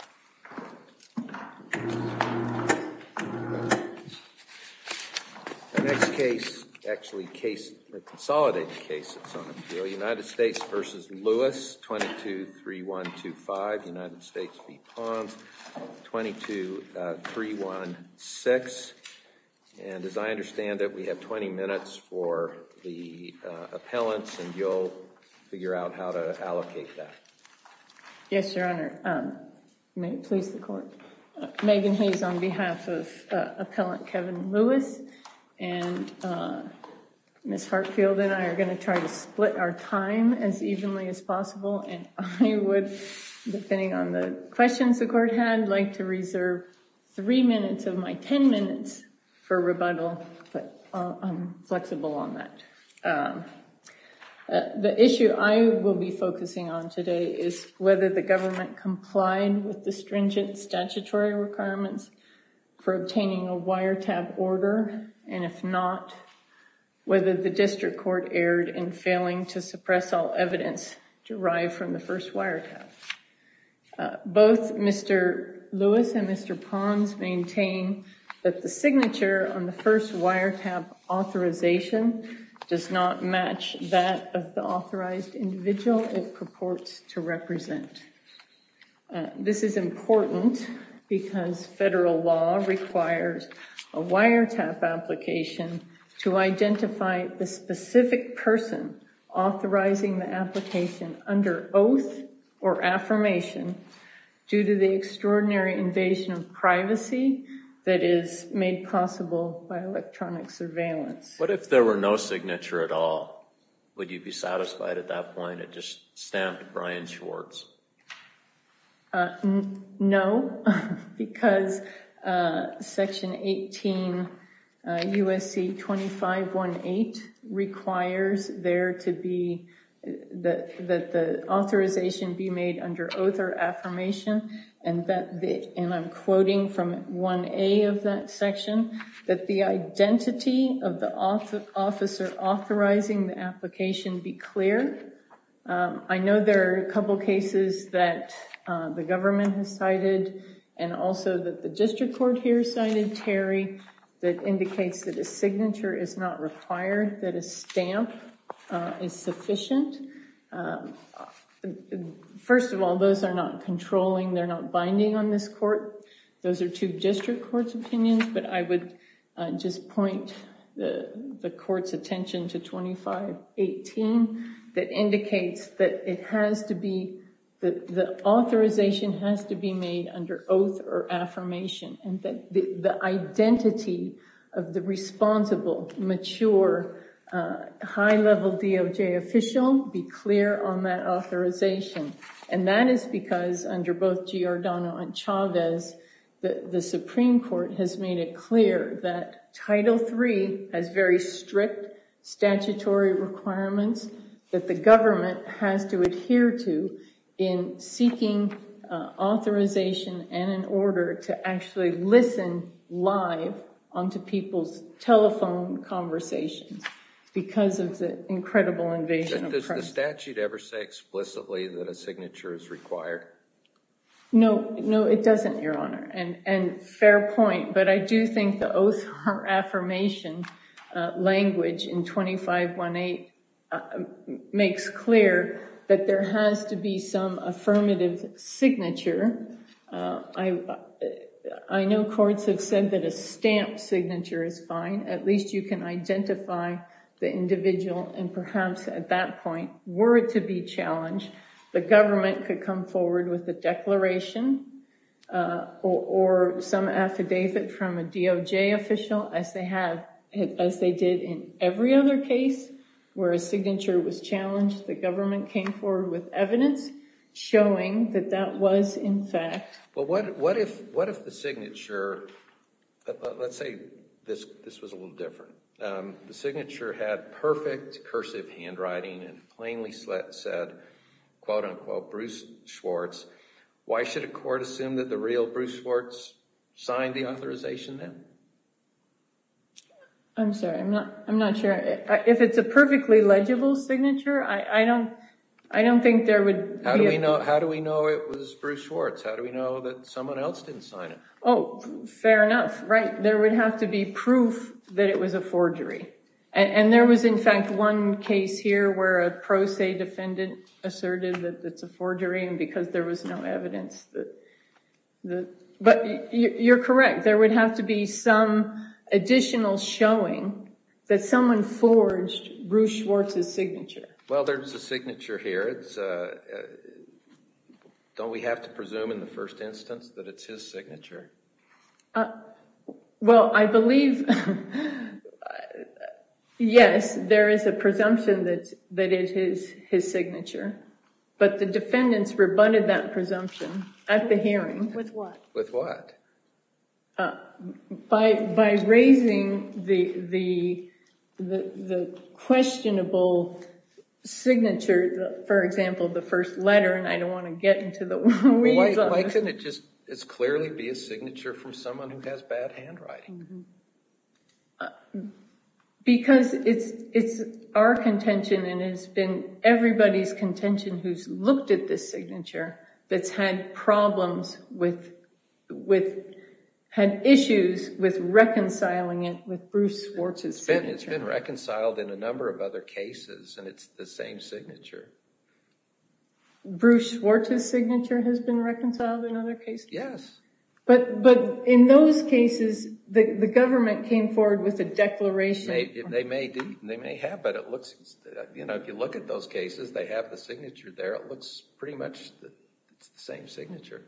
22-316. And as I understand it, we have 20 minutes for the appellants and you'll figure out how to allocate that. Yes, Your Honor. May it please the court. Megan Hayes on behalf of Appellant Kevin Lewis and Ms. Hartfield and I are going to try to split our time as evenly as possible and I would, depending on the questions the court had, like to reserve three minutes of my 10 minutes for rebuttal, but I'm flexible on that. The issue I will be focusing on today is whether the government complied with the stringent statutory requirements for obtaining a wiretap order, and if not, whether the district court erred in failing to suppress all evidence derived from the first wiretap. Both Mr. Lewis and Mr. Pons maintain that the signature on the first wiretap authorization does not match that of the authorized individual it purports to represent. This is important because federal law requires a wiretap application to identify the specific person authorizing the application under oath or affirmation due to the extraordinary invasion of privacy that is made possible by electronic surveillance. What if there were no signature at all? Would you be satisfied at that point? It just stamped Brian Schwartz. No, because section 18 U.S.C. 2518 requires there to be, that the authorization be made under oath or affirmation and that, and I'm quoting from 1A of that section, that the identity of the officer authorizing the application be clear. I know there are a couple cases that the government has cited and also that the district court here cited, Terry, that indicates that a signature is not required, that a stamp is sufficient. First of all, those are not controlling. They're not binding on this 2518 that indicates that it has to be, that the authorization has to be made under oath or affirmation and that the identity of the responsible, mature, high-level DOJ official be clear on that authorization and that is because under both Giordano and Chavez, the Supreme Court has made it clear that Title III has very strict statutory requirements that the government has to adhere to in seeking authorization and an order to actually listen live onto people's telephone conversations because of the incredible invasion of press. Does the statute ever say explicitly that a signature is required? No, no, it doesn't, Your Honor, and fair point, but I do think the oath or affirmation language in 2518 makes clear that there has to be some affirmative signature. I know courts have said that a stamp signature is fine. At least you can identify the individual and perhaps at that point, were it to be challenged, the government could come forward with a declaration or some affidavit from a DOJ official as they have, as they did in every other case where a signature was challenged, the government came forward with evidence showing that that was in fact. But what if the signature, let's say this was a little different, the signature had perfect cursive handwriting and plainly said, quote-unquote, Bruce Schwartz, why should a court assume that the real Bruce Schwartz signed the authorization then? I'm sorry, I'm not sure. If it's a perfectly legible signature, I don't think there would be a... How do we know it was Bruce Schwartz? How do we know that someone else didn't sign it? Oh, fair enough. Right. There would have to be proof that it was a forgery. And there was, in fact, one case here where a pro se defendant asserted that it's a forgery and because there was no evidence that... But you're correct. There would have to be some additional showing that someone forged Bruce Schwartz's signature. Well, there's a signature here. Don't we have to presume in the first instance that it's his signature? Well, I believe, yes, there is a presumption that it is his signature, but the defendants rebutted that presumption at the hearing. With what? By raising the questionable signature, for example, the first letter, and I don't want to get into the weeds of it. Why couldn't it just as clearly be a signature from someone who has bad handwriting? Because it's our contention and it's been everybody's contention who's looked at this signature that's had problems with, had issues with reconciling it with Bruce Schwartz's signature. It's been reconciled in a number of other cases, and it's the same signature. Bruce Schwartz's signature has been reconciled in other cases? Yes. But in those cases, the government came forward with a declaration. They may have, but it looks, you know, if you look at those cases, they have the signature there. It looks pretty much the same signature.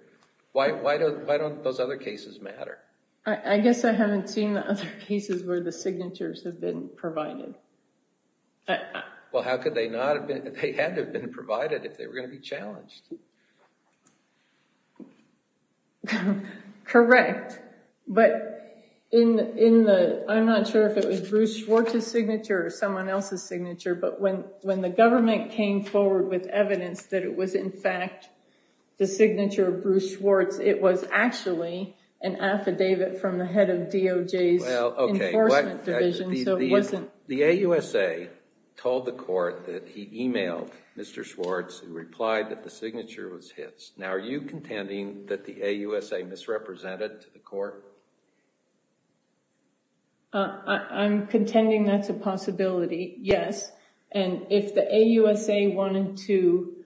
Why don't those other cases matter? I guess I haven't seen the other cases where the signatures have been provided. Well, how could they not have been, they had to have been provided if they were going to Bruce Schwartz's signature or someone else's signature. But when the government came forward with evidence that it was in fact the signature of Bruce Schwartz, it was actually an affidavit from the head of DOJ's Enforcement Division. The AUSA told the court that he emailed Mr. Schwartz and replied that the signature was his. Now, are you contending that the AUSA misrepresented to the court? I'm contending that's a possibility, yes. And if the AUSA wanted to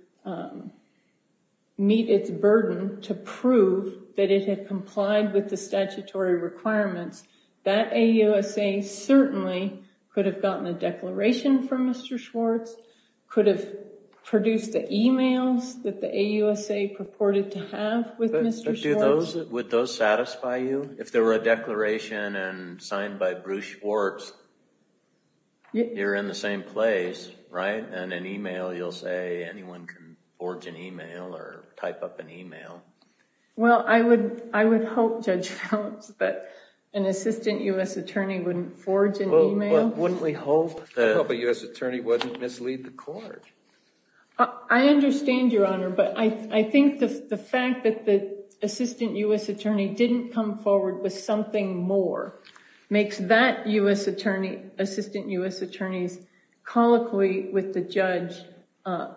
meet its burden to prove that it had complied with the statutory requirements, that AUSA certainly could have gotten a declaration from Mr. Schwartz, could have produced the emails that the AUSA purported to have with Mr. Schwartz? Would those satisfy you? If there were a declaration and signed by Bruce Schwartz, you're in the same place, right? And an email, you'll say anyone can forge an email or type up an email. Well, I would hope, Judge Phelps, that an assistant U.S. attorney wouldn't forge an email. Wouldn't we hope a U.S. attorney wouldn't mislead the court? I understand, Your Honor, but I think the fact that the assistant U.S. attorney didn't come forward with something more makes that U.S. attorney, assistant U.S. attorneys colloquy with the judge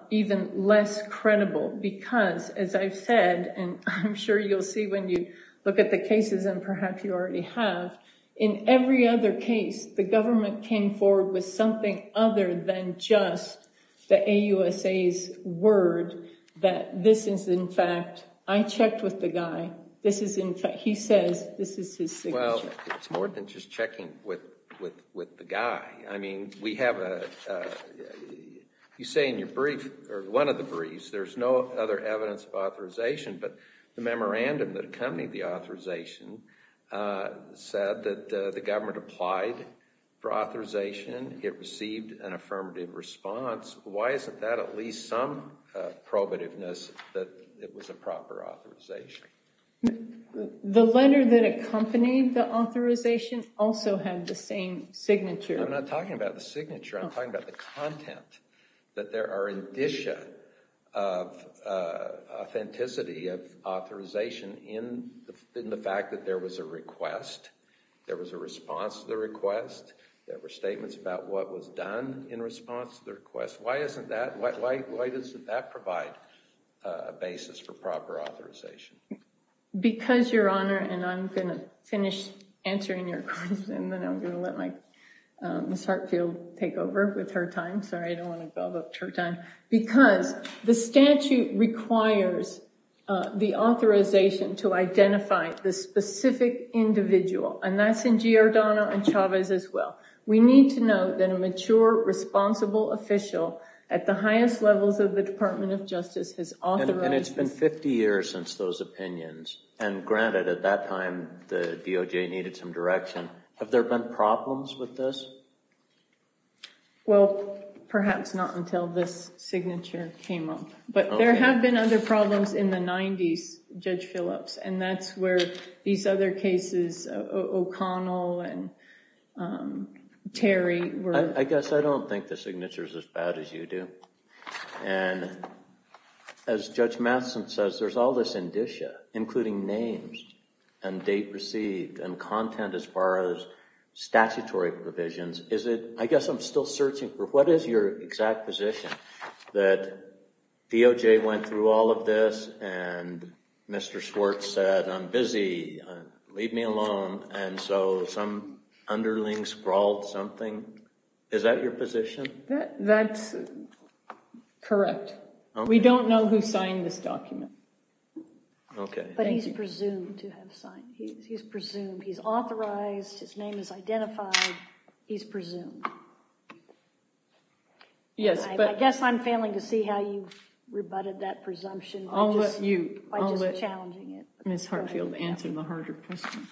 even less credible because, as I've said, and I'm sure you'll see when you look at the cases, and perhaps you already have, in every other case the government came forward with something other than just the AUSA's word that this is in fact, I checked with the guy, this is in fact, he says this is his signature. Well, it's more than just checking with the guy. I mean, we have a, you say in your brief, or one of the briefs, there's no other evidence of authorization, but the memorandum that the government applied for authorization, it received an affirmative response, why isn't that at least some probativeness that it was a proper authorization? The letter that accompanied the authorization also had the same signature. I'm not talking about the signature, I'm talking about the content, that there are indicia of authorization in the fact that there was a request, there was a response to the request, there were statements about what was done in response to the request. Why isn't that, why doesn't that provide a basis for proper authorization? Because, your honor, and I'm going to finish answering your question and then I'm going to let my Ms. Hartfield take over with her time. Sorry, I don't want to gobble up her time. Because the statute requires the authorization to identify the specific individual, and that's in Giordano and Chavez as well. We need to know that a mature, responsible official at the highest levels of the Department of Justice has authorized. And it's been 50 years since those opinions, and granted at that time the DOJ needed some direction. Have there been problems with this? Well, perhaps not until this signature came up. But there have been other problems in the 90s, Judge Phillips, and that's where these other cases, O'Connell and Terry were. I guess I don't think the signature is as bad as you do. And as Judge Matheson says, there's all this indicia, including names and date received and content as far as I guess I'm still searching for what is your exact position? That DOJ went through all of this and Mr. Schwartz said, I'm busy, leave me alone. And so some underling scrawled something. Is that your position? That's correct. We don't know who signed this document. But he's presumed to have signed. He's presumed. He's authorized. His name is identified. He's presumed. Yes, but... I guess I'm failing to see how you rebutted that presumption by just challenging it. I'll let Ms. Hartfield answer the harder question.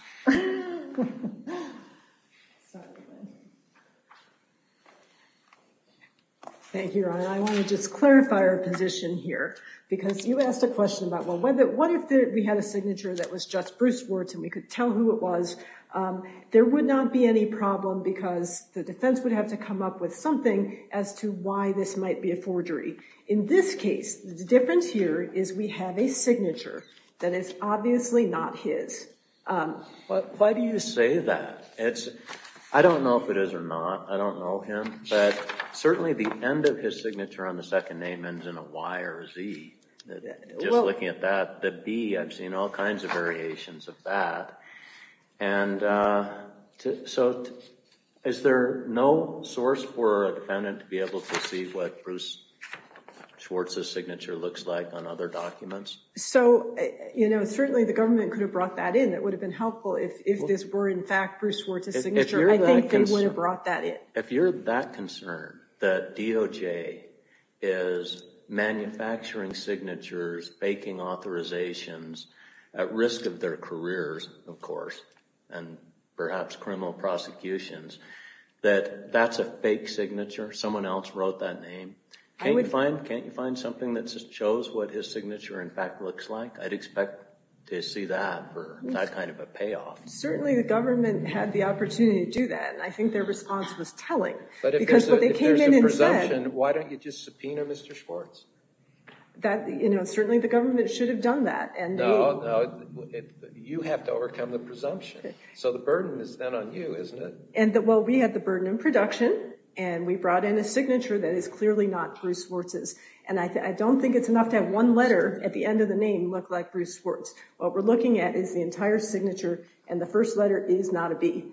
Thank you, Your Honor. I want to just clarify our position here, because you asked a question about what if we had a signature that was just Bruce Schwartz and we could tell who it was, there would not be any problem because the defense would have to come up with something as to why this might be a forgery. In this case, the difference here is we have a signature that is obviously not his. Why do you say that? I don't know if it is or not. I don't know him. But certainly the end of his signature on the second name ends in a Y or a Z. Just looking at that, the B, I've seen all kinds of variations of that. And so is there no source for a defendant to be able to see what Bruce Schwartz's signature looks like on other documents? So, you know, certainly the government could have brought that in. It would have been helpful if this were in fact Bruce Schwartz's signature. I think they would have brought that in. If you're that concerned that DOJ is manufacturing signatures, faking authorizations at risk of their careers, of course, and perhaps criminal prosecutions, that that's a fake signature, someone else wrote that name. Can't you find something that shows what his signature in fact looks like? I'd expect to see that for that kind of a payoff. Certainly the government had the opportunity to do that, and I think their response was telling. But if there's a presumption, why don't you just subpoena Mr. Schwartz? That, you know, certainly the government should have done that. No, no, you have to overcome the presumption. So the burden is then on you, isn't it? And well, we had the burden in production, and we brought in a signature that is clearly not Bruce Schwartz's. And I don't think it's enough to have one letter at the end of the name look like Bruce and the first letter is not a B.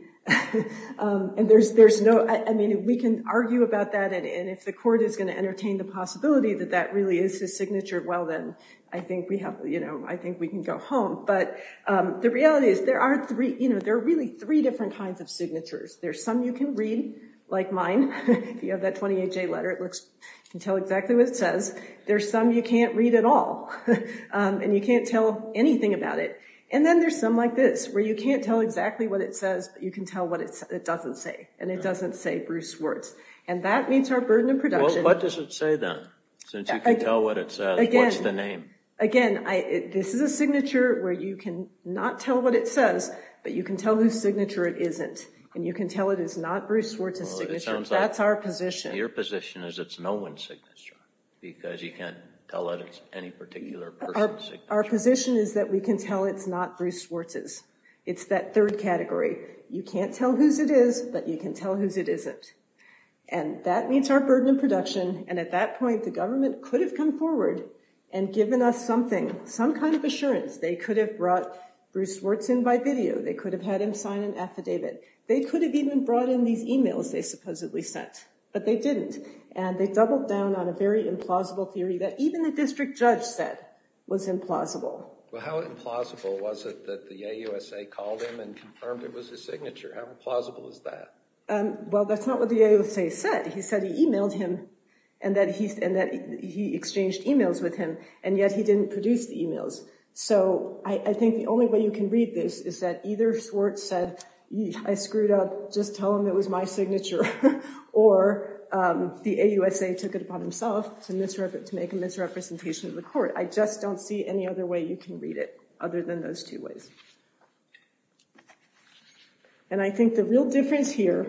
And there's no, I mean, we can argue about that. And if the court is going to entertain the possibility that that really is his signature, well, then I think we have, you know, I think we can go home. But the reality is there are three, you know, there are really three different kinds of signatures. There's some you can read, like mine. If you have that 28-J letter, it looks, you can tell exactly what it says. There's some you can't read at all, and you can't tell anything about it. And then there's some like this, where you can't tell exactly what it says, but you can tell what it doesn't say. And it doesn't say Bruce Schwartz. And that meets our burden in production. Well, what does it say then? Since you can tell what it says, what's the name? Again, this is a signature where you can not tell what it says, but you can tell whose signature it isn't. And you can tell it is not Bruce Schwartz's signature. That's our position. Your position is it's no one's signature, because you can't tell that it's any particular person's signature. Our position is that we can tell it's not Bruce Schwartz's. It's that third category. You can't tell whose it is, but you can tell whose it isn't. And that meets our burden of production. And at that point, the government could have come forward and given us something, some kind of assurance. They could have brought Bruce Schwartz in by video. They could have had him sign an affidavit. They could have even brought in these emails they supposedly sent. But they didn't. And they doubled down on a very implausible theory that even the district judge said was implausible. Well, how implausible was it that the AUSA called him and confirmed it was his signature? How implausible is that? Well, that's not what the AUSA said. He said he emailed him, and that he exchanged emails with him, and yet he didn't produce the emails. So I think the only way you can read this is that either Schwartz said, I screwed up. Just tell him it was my signature. Or the AUSA took it upon himself to make a misrepresentation of the court. I just don't see any other way you can read it other than those two ways. And I think the real difference here,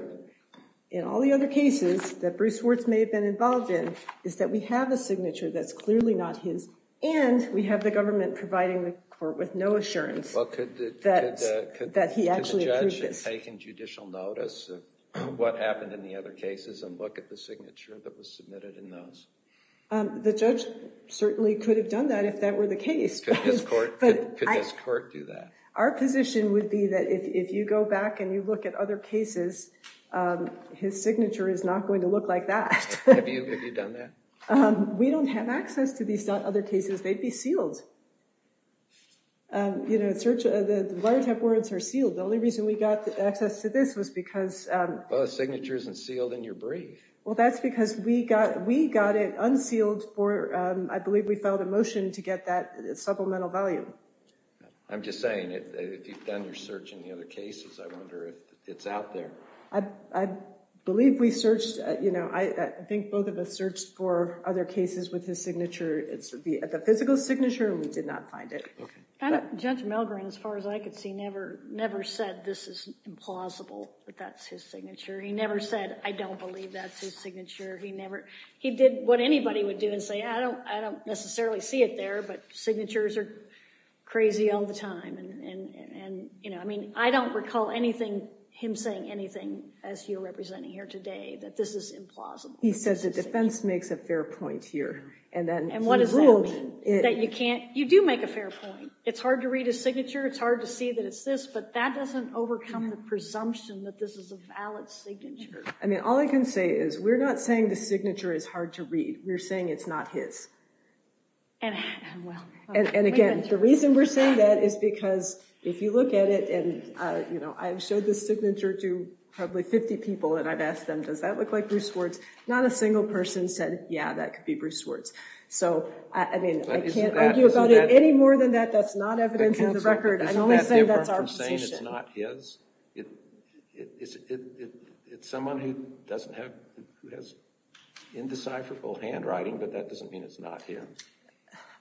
in all the other cases that Bruce Schwartz may have been involved in, is that we have a signature that's clearly not his. And we have the government providing the court with no assurance that he actually approved it. Could the judge have taken judicial notice of what happened in the other cases and look at the signature that was submitted in those? The judge certainly could have done that if that were the case. Could this court do that? Our position would be that if you go back and you look at other cases, his signature is not going to look like that. Have you done that? We don't have access to these other cases. They'd be sealed. You know, the wiretap words are sealed. The only reason we got access to this was because... Well, the signature isn't sealed in your brief. Well, that's because we got it unsealed for, I believe we filed a motion to get that supplemental value. I'm just saying, if you've done your search in the other cases, I wonder if it's out there. I believe we searched, you know, I think both of us searched for other cases with his signature. It would be at the physical signature, and we did not find it. Judge Milgren, as far as I could see, never said this is implausible that that's his signature. He never said, I don't believe that's his signature. He never... He did what anybody would do and say, I don't necessarily see it there, but signatures are crazy all the time. And, you know, I mean, I don't recall anything, him saying anything, as you're representing here today, that this is implausible. He says the defense makes a fair point here. And what does that mean? That you can't, you do make a fair point. It's hard to read a signature. It's hard to see that it's this, but that doesn't overcome the presumption that this is a valid signature. I mean, all I can say is we're not saying the signature is hard to read. We're saying it's not his. And again, the reason we're saying that is because if you look at it and, you know, I've showed this signature to probably 50 people and I've asked them, does that look like Bruce Swartz? Not a single person said, yeah, that could be Bruce Swartz. So, I mean, I can't argue about it any more than that. That's not evidence in the record. I only say that's our position. It's not his? It's someone who doesn't have, who has indecipherable handwriting, but that doesn't mean it's not him.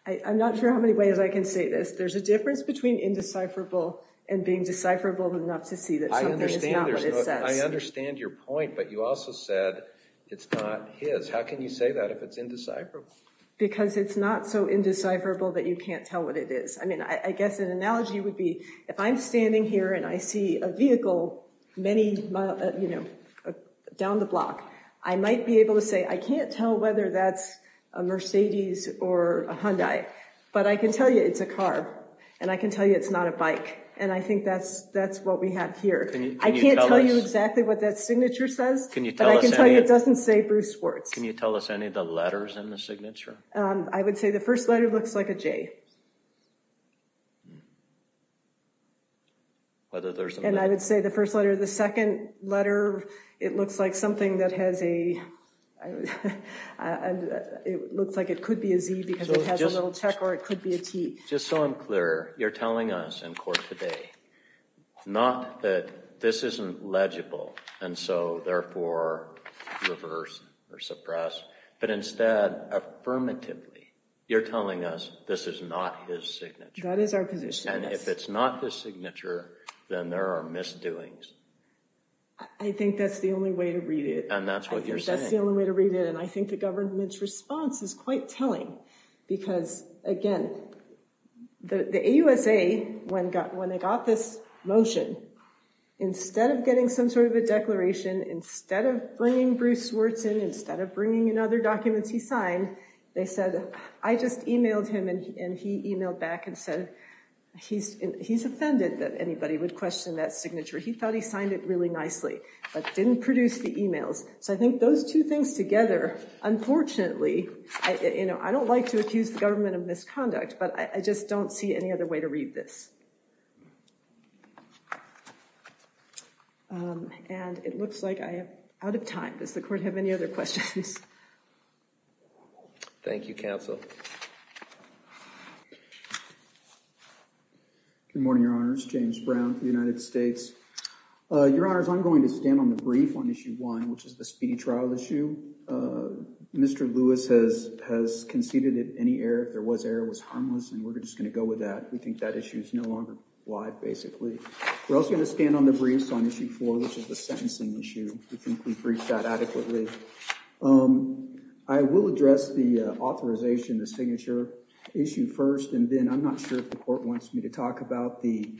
I'm not sure how many ways I can say this. There's a difference between indecipherable and being decipherable enough to see that something is not what it says. I understand your point, but you also said it's not his. How can you say that if it's indecipherable? Because it's not so indecipherable that you can't tell what it is. I mean, I guess an analogy would be if I'm standing here and I see a vehicle many, you know, down the block, I might be able to say I can't tell whether that's a Mercedes or a Hyundai, but I can tell you it's a car and I can tell you it's not a bike. And I think that's what we have here. I can't tell you exactly what that signature says, but I can tell you it doesn't say Bruce Schwartz. Can you tell us any of the letters in the signature? I would say the first letter looks like a J. And I would say the first letter of the second letter, it looks like something that has a, it looks like it could be a Z because it has a little check or it could be a T. Just so I'm clear, you're telling us in court today, not that this isn't legible and so therefore reverse or suppress, but instead, affirmatively, you're telling us this is not his signature. That is our position. And if it's not his signature, then there are misdoings. I think that's the only way to read it. And that's what you're saying. That's the only way to read it. I think the government's response is quite telling because again, the AUSA, when they got this motion, instead of getting some sort of a declaration, instead of bringing Bruce Schwartz in, instead of bringing in other documents he signed, they said, I just emailed him and he emailed back and said, he's offended that anybody would question that signature. He thought he signed it really nicely, but didn't produce the emails. So I think those two things together, unfortunately, I don't like to accuse the government of misconduct, but I just don't see any other way to read this. And it looks like I am out of time. Does the court have any other questions? Thank you, counsel. Good morning, Your Honors. James Brown for the United States. Your Honors, I'm going to stand on the brief on issue one, which is the speedy trial issue. Mr. Lewis has conceded that any error, if there was error, was harmless, and we're just going to go with that. We think that issue is no longer live, basically. We're also going to stand on the briefs on issue four, which is the sentencing issue. We think we've reached that adequately. I will address the authorization, the signature issue first, and then I'm not sure if the court wants me to talk about the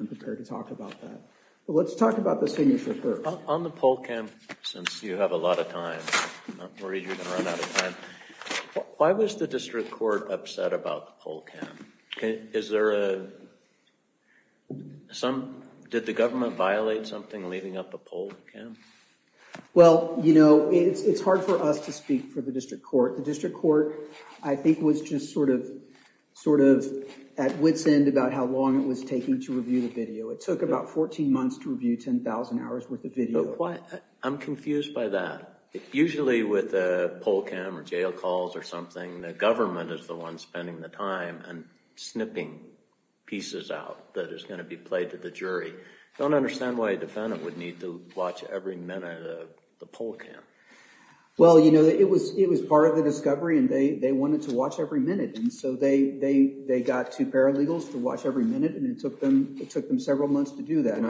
I'm prepared to talk about that. But let's talk about the signature first. On the poll cam, since you have a lot of time, I'm not worried you're going to run out of time. Why was the district court upset about the poll cam? Did the government violate something leaving up the poll cam? Well, you know, it's hard for us to speak for the district court. The district court, I think, was just sort of at wit's end about how long it was taking to review the video. It took about 14 months to review 10,000 hours worth of video. I'm confused by that. Usually with a poll cam or jail calls or something, the government is the one spending the time and snipping pieces out that is going to be played to the jury. I don't understand why a defendant would need to watch every minute of the poll cam. Well, you know, it was part of the discovery, and they wanted to watch every minute. And so they got two paralegals to watch every minute, and it took them several months to do that.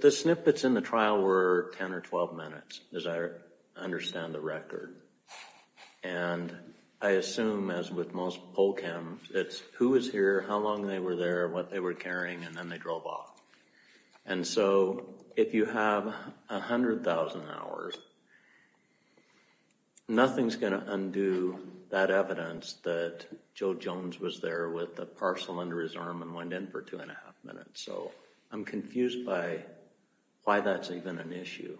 The snippets in the trial were 10 or 12 minutes, as I understand the record. And I assume, as with most poll cams, it's who was here, how long they were there, what they were carrying, and then they drove off. And so if you have 100,000 hours, nothing's going to undo that evidence that Joe Jones was there with a parcel under his arm and went in for two and a half minutes. So I'm confused by why that's even an issue.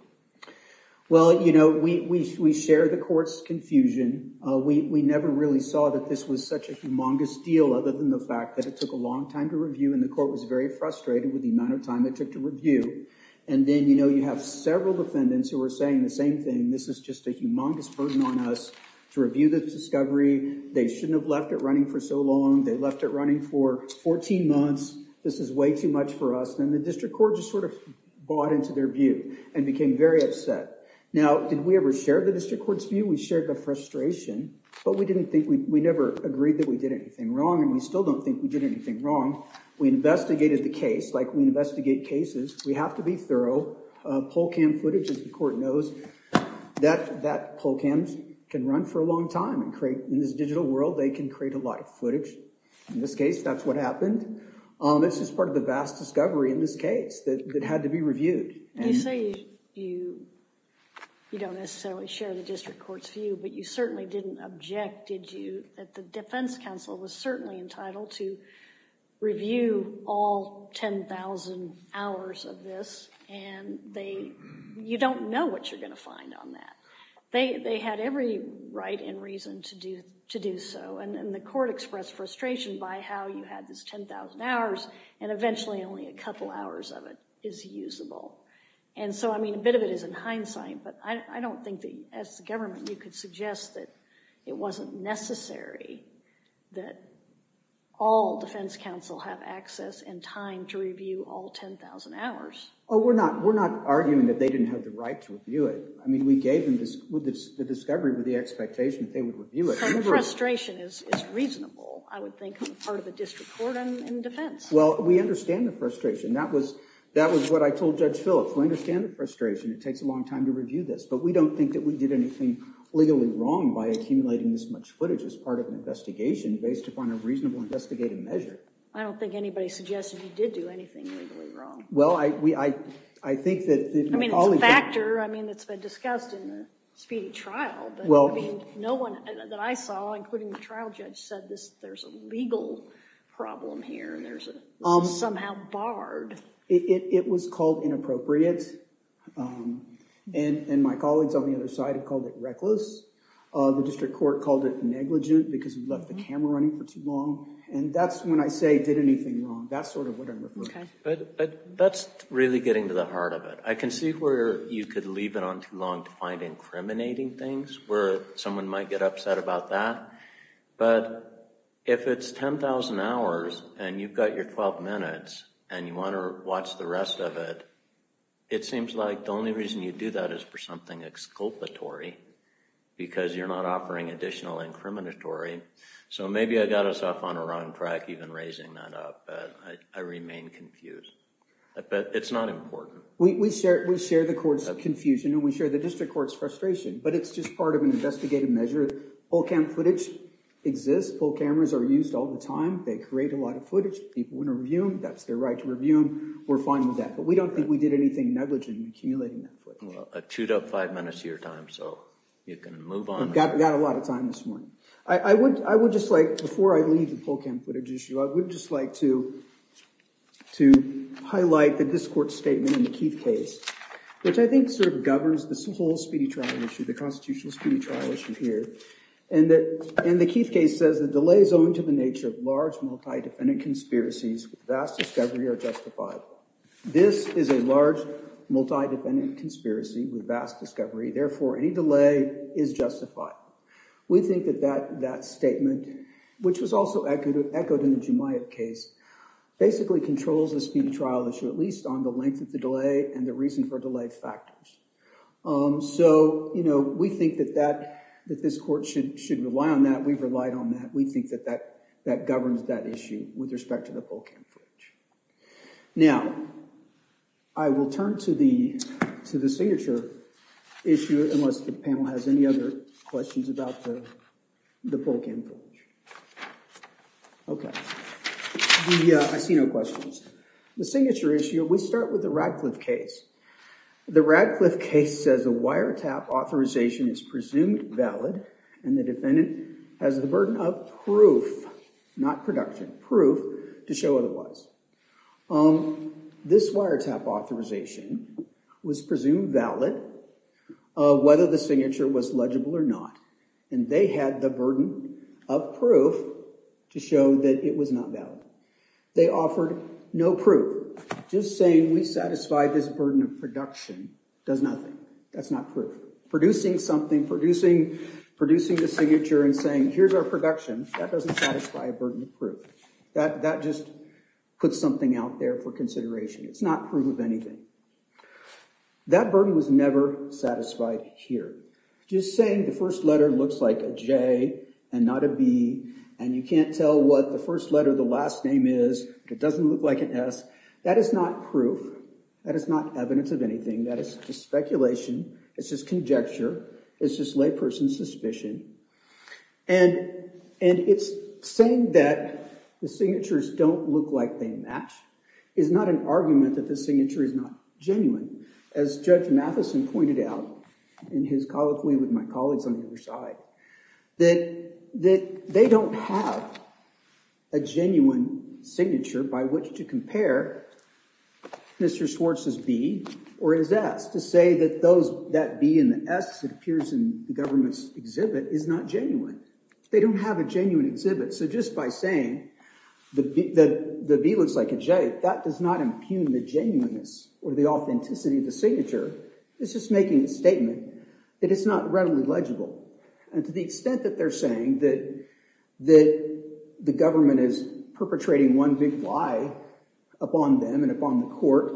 Well, you know, we share the court's confusion. We never really saw that this was such a humongous deal, other than the fact that it took a long time to review, and the court was very frustrated with the amount of time it took to review. And then, you know, you have several defendants who were saying the same thing. This is just a humongous burden on us to review the discovery. They shouldn't have left it running for so long. They left it running for 14 months. This is way too much for us. And the district court just sort of bought into their view and became very upset. Now, did we ever share the district court's view? We shared the frustration, but we never agreed that we did anything wrong, and we still don't think we did anything wrong. We investigated the case like we investigate cases. We have to be thorough. Poll cam footage, as the court knows, that poll cams can run for a long time. In this digital world, they can create a lot of footage. In this case, that's what happened. It's just part of the vast discovery in this case that had to be reviewed. You say you don't necessarily share the district court's view, but you certainly didn't object, did you, that the defense counsel was certainly entitled to review all 10,000 hours of this and you don't know what you're going to find on that. They had every right and reason to do so, and the court expressed frustration by how you had this 10,000 hours and eventually only a couple hours of it is usable. And so, I mean, a bit of it is in hindsight, but I don't think that, as the government, you could suggest that it wasn't necessary that all defense counsel have access and time to review all 10,000 hours. We're not arguing that they didn't have the right to review it. I mean, we gave them the discovery with the expectation that they would review it. So frustration is reasonable, I would think, part of the district court and defense. Well, we understand the frustration. That was what I told Judge Phillips. We understand the frustration. It takes a long time to review this, but we don't think that we did anything legally wrong by accumulating this much footage as part of an investigation based upon a reasonable investigative measure. I don't think anybody suggested he did do anything legally wrong. Well, I think that... I mean, it's a factor. I mean, it's been discussed in the speedy trial, but no one that I saw, including the trial judge, said there's a legal problem here and there's somehow barred. It was called inappropriate. And my colleagues on the other side called it reckless. The district court called it negligent because we left the camera running for too long. That's sort of what I'm referring to. But that's really getting to the heart of it. I can see where you could leave it on too long to find incriminating things, where someone might get upset about that. But if it's 10,000 hours and you've got your 12 minutes and you want to watch the rest of it, it seems like the only reason you do that is for something exculpatory because you're not offering additional incriminatory. So maybe I got us off on the wrong track even raising that up. I remain confused. But it's not important. We share the court's confusion and we share the district court's frustration, but it's just part of an investigative measure. Poll cam footage exists. Poll cameras are used all the time. They create a lot of footage. People want to review them. That's their right to review them. We're fine with that. But we don't think we did anything negligent in accumulating that footage. Well, two to five minutes of your time, so you can move on. Got a lot of time this morning. I would just like, before I leave the poll cam footage, I would just like to highlight the district court's statement in the Keith case, which I think sort of governs this whole speedy trial issue, the constitutional speedy trial issue here. And the Keith case says, the delay is owing to the nature of large multi-defendant conspiracies with vast discovery are justified. This is a large multi-defendant conspiracy with vast discovery. Therefore, any delay is justified. We think that that statement, which was also echoed in the Jumia case, basically controls the speedy trial issue, at least on the length of the delay and the reason for delayed factors. So we think that this court should rely on that. We've relied on that. We think that that governs that issue with respect to the poll cam footage. Now, I will turn to the signature issue, unless the panel has any other questions about the poll cam footage. Okay, I see no questions. The signature issue, we start with the Radcliffe case. The Radcliffe case says, a wiretap authorization is presumed valid and the defendant has the burden of proof, not production, proof to show otherwise. This wiretap authorization was presumed valid whether the signature was legible or not. And they had the burden of proof to show that it was not valid. They offered no proof. Just saying we satisfy this burden of production does nothing. That's not proof. Producing something, producing the signature and saying, here's our production, that doesn't satisfy a burden of proof. That just puts something out there for consideration. It's not proof of anything. That burden was never satisfied here. Just saying the first letter looks like a J and not a B, and you can't tell what the first letter, the last name is, it doesn't look like an S, that is not proof. That is not evidence of anything. That is just speculation. It's just conjecture. It's just layperson suspicion. And it's saying that the signatures don't look like they match is not an argument that the signature is not genuine. As Judge Matheson pointed out in his colloquy with my colleagues on the other side, that they don't have a genuine signature by which to compare Mr. Swartz's B or his S to say that that B and the S that appears in the government's exhibit is not genuine. They don't have a genuine exhibit. So just by saying the B looks like a J, that does not impugn the genuineness or the authenticity of the signature. It's just making a statement that it's not readily legible. And to the extent that they're saying that the government is perpetrating one big lie upon them and upon the court,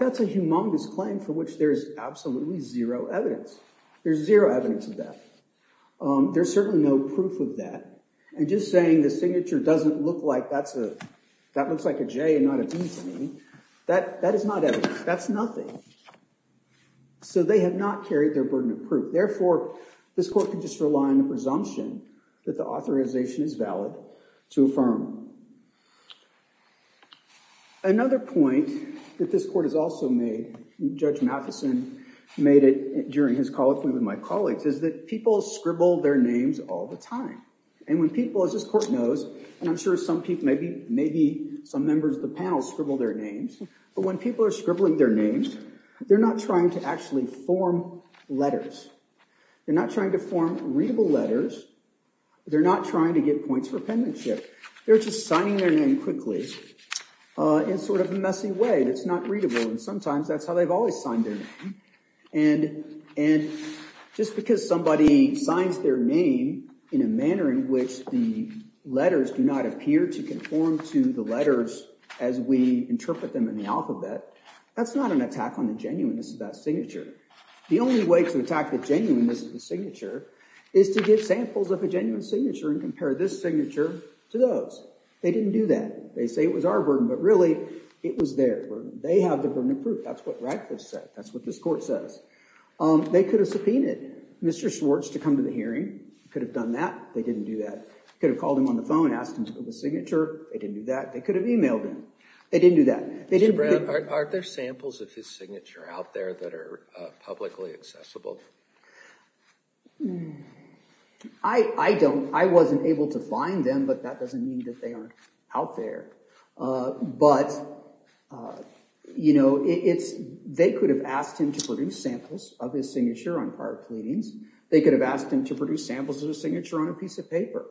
that's a humongous claim for which there is absolutely zero evidence. There's zero evidence of that. There's certainly no proof of that. And just saying the signature doesn't look like that looks like a J and not a B to me, that is not evidence. That's nothing. So they have not carried their burden of proof. Therefore, this court can just rely on the presumption that the authorization is valid to affirm. Another point that this court has also made, Judge Matheson made it during his colloquy with my colleagues, is that people scribble their names all the time. And when people, as this court knows, and I'm sure some people, scribble their names. But when people are scribbling their names, they're not trying to actually form letters. They're not trying to form readable letters. They're not trying to get points for appendixship. They're just signing their name quickly in sort of a messy way that's not readable. And sometimes that's how they've always signed their name. And just because somebody signs their name in a manner in which the letters do not appear to conform to the letters as we interpret them in the alphabet, that's not an attack on the genuineness of that signature. The only way to attack the genuineness of the signature is to give samples of a genuine signature and compare this signature to those. They didn't do that. They say it was our burden, but really it was their burden. They have the burden of proof. That's what Radcliffe said. That's what this court says. They could have subpoenaed Mr. Schwartz to come to the hearing. Could have done that. They didn't do that. Could have called him on the phone, asked him to give a signature. They didn't do that. They could have emailed him. They didn't do that. Aren't there samples of his signature out there that are publicly accessible? I don't. I wasn't able to find them, but that doesn't mean that they aren't out there. But they could have asked him to produce samples of his signature on prior pleadings. They could have asked him to produce samples of his signature on a piece of paper.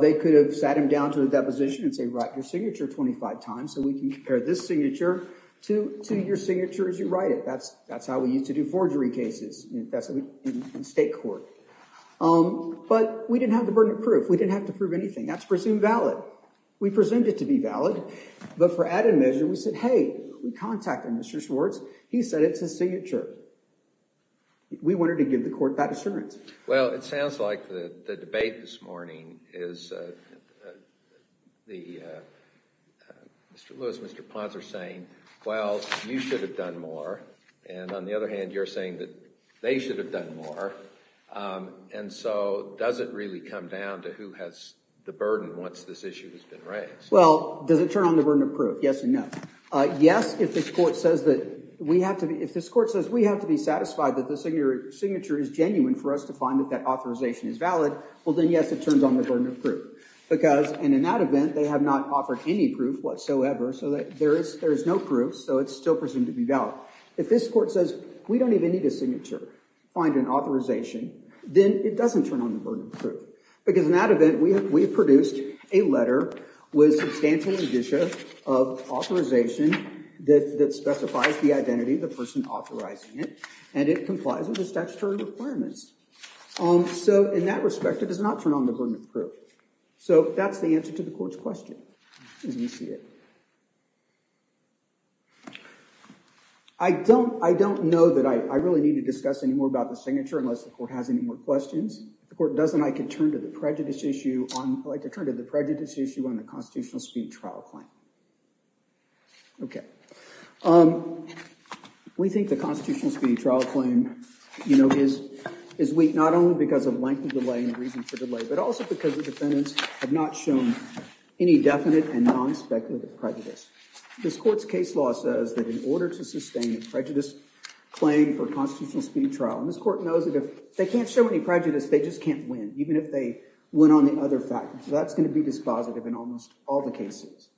They could have sat him down to a deposition and say, write your signature 25 times so we can compare this signature to your signature as you write it. That's how we used to do forgery cases in state court. But we didn't have the burden of proof. We didn't have to prove anything. That's presumed valid. We presumed it to be valid. But for added measure, we said, hey, we contacted Mr. Schwartz. He said it's his signature. We wanted to give the court that assurance. Well, it sounds like the debate this morning is Mr. Lewis, Mr. Ponser saying, well, you should have done more. And on the other hand, you're saying that they should have done more. And so does it really come down to who has the burden once this issue has been raised? Well, does it turn on the burden of proof? Yes or no. Yes, if this court says that we have to be satisfied that the signature is genuine for us to find that that authorization is valid, well, then yes, it turns on the burden of proof. Because in that event, they have not offered any proof whatsoever. So there is no proof. So it's still presumed to be valid. If this court says, we don't even need a signature to find an authorization, then it doesn't turn on the burden of proof. Because in that event, we produced a letter with substantial edition of authorization that specifies the identity of the person authorizing it. And it complies with the statutory requirements. So in that respect, it does not turn on the burden of proof. So that's the answer to the court's question, as we see it. I don't know that I really need to discuss any more about the signature unless the court has any more questions. If the court doesn't, I could turn to the prejudice issue on the constitutional speed trial claim. OK. We think the constitutional speed trial claim is weak, not only because of length of delay and the reason for delay, but also because the defendants have not shown any definite and non-speculative prejudice. This court's case law says that in order to sustain a prejudice claim for a constitutional speed trial, and this court knows that if they can't show any prejudice, they just can't win, even if they win on the other factors. That's going to be dispositive in almost all the cases.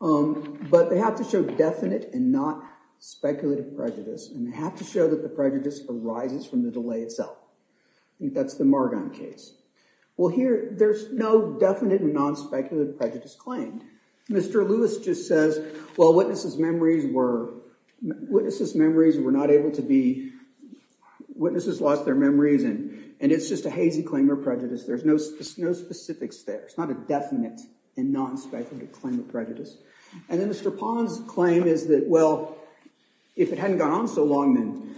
But they have to show definite and not speculative prejudice, and they have to show that the prejudice arises from the delay itself. I think that's the Margon case. Well, here, there's no definite and non-speculative prejudice claim. Mr. Lewis just says, well, witnesses' memories were not able to be, witnesses lost their memories, and it's just a hazy claim of prejudice. There's no specifics there. It's not a definite and non-speculative claim of prejudice. And then Mr. Pons' claim is that, well, if it hadn't gone on so long,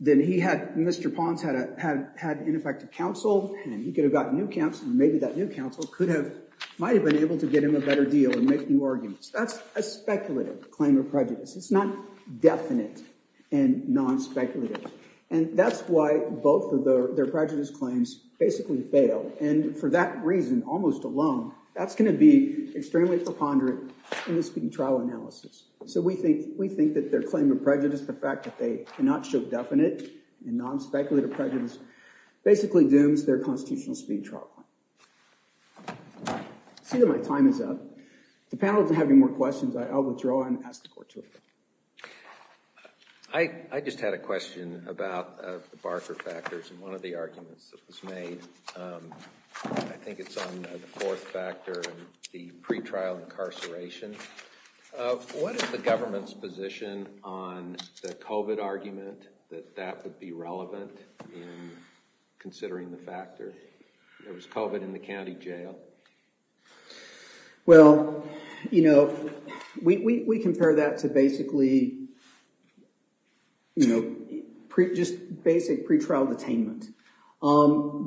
then he had, Mr. Pons had, in effect, a counsel, and he could have gotten new counsel, and maybe that new counsel could have, might have been able to get him a better deal and make new arguments. That's a speculative claim of prejudice. It's not definite and non-speculative. And that's why both of their prejudice claims basically fail. And for that reason, almost alone, that's going to be extremely preponderant in the speed trial analysis. So we think that their claim of prejudice, the fact that they cannot show definite and non-speculative prejudice, basically dooms their constitutional speed trial. I see that my time is up. If the panel doesn't have any more questions, I will withdraw and ask the court to adjourn. I just had a question about the Barker factors, and one of the arguments that was made, I think it's on the fourth factor, and the pretrial incarceration. What is the government's position on the COVID argument that that would be relevant in considering the factor? There was COVID in the county jail. Well, you know, we compare that to basically, you know, just basic pretrial detainment.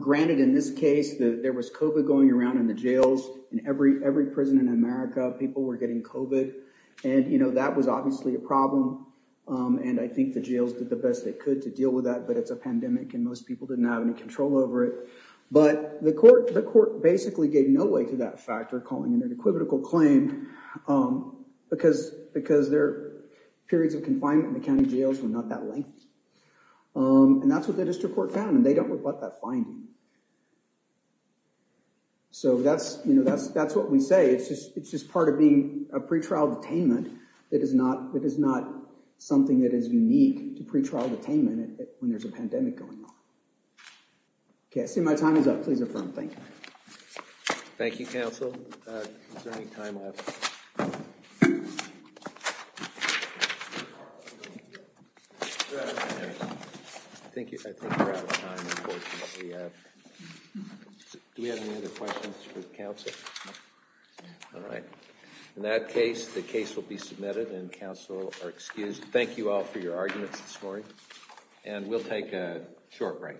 Granted, in this case, there was COVID going around in the jails. In every prison in America, people were getting COVID. And, you know, that was obviously a problem. And I think the jails did the best they could to deal with that. But it's a pandemic, and most people didn't have any control over it. But the court basically gave no weight to that factor, calling it an equivocal claim, because their periods of confinement in the county jails were not that lengthy. And that's what the district court found, and they don't rebut that finding. So that's, you know, that's what we say. It's just part of being a pretrial detainment that is not something that is unique to pretrial detainment when there's a pandemic going on. Okay, I see my time is up. Please affirm. Thank you. Thank you, counsel. Is there any time left? I think we're out of time, unfortunately. Do we have any other questions for the counsel? All right. In that case, the case will be submitted, and counsel are excused. Thank you all for your arguments this morning. And we'll take a short break. Thank you.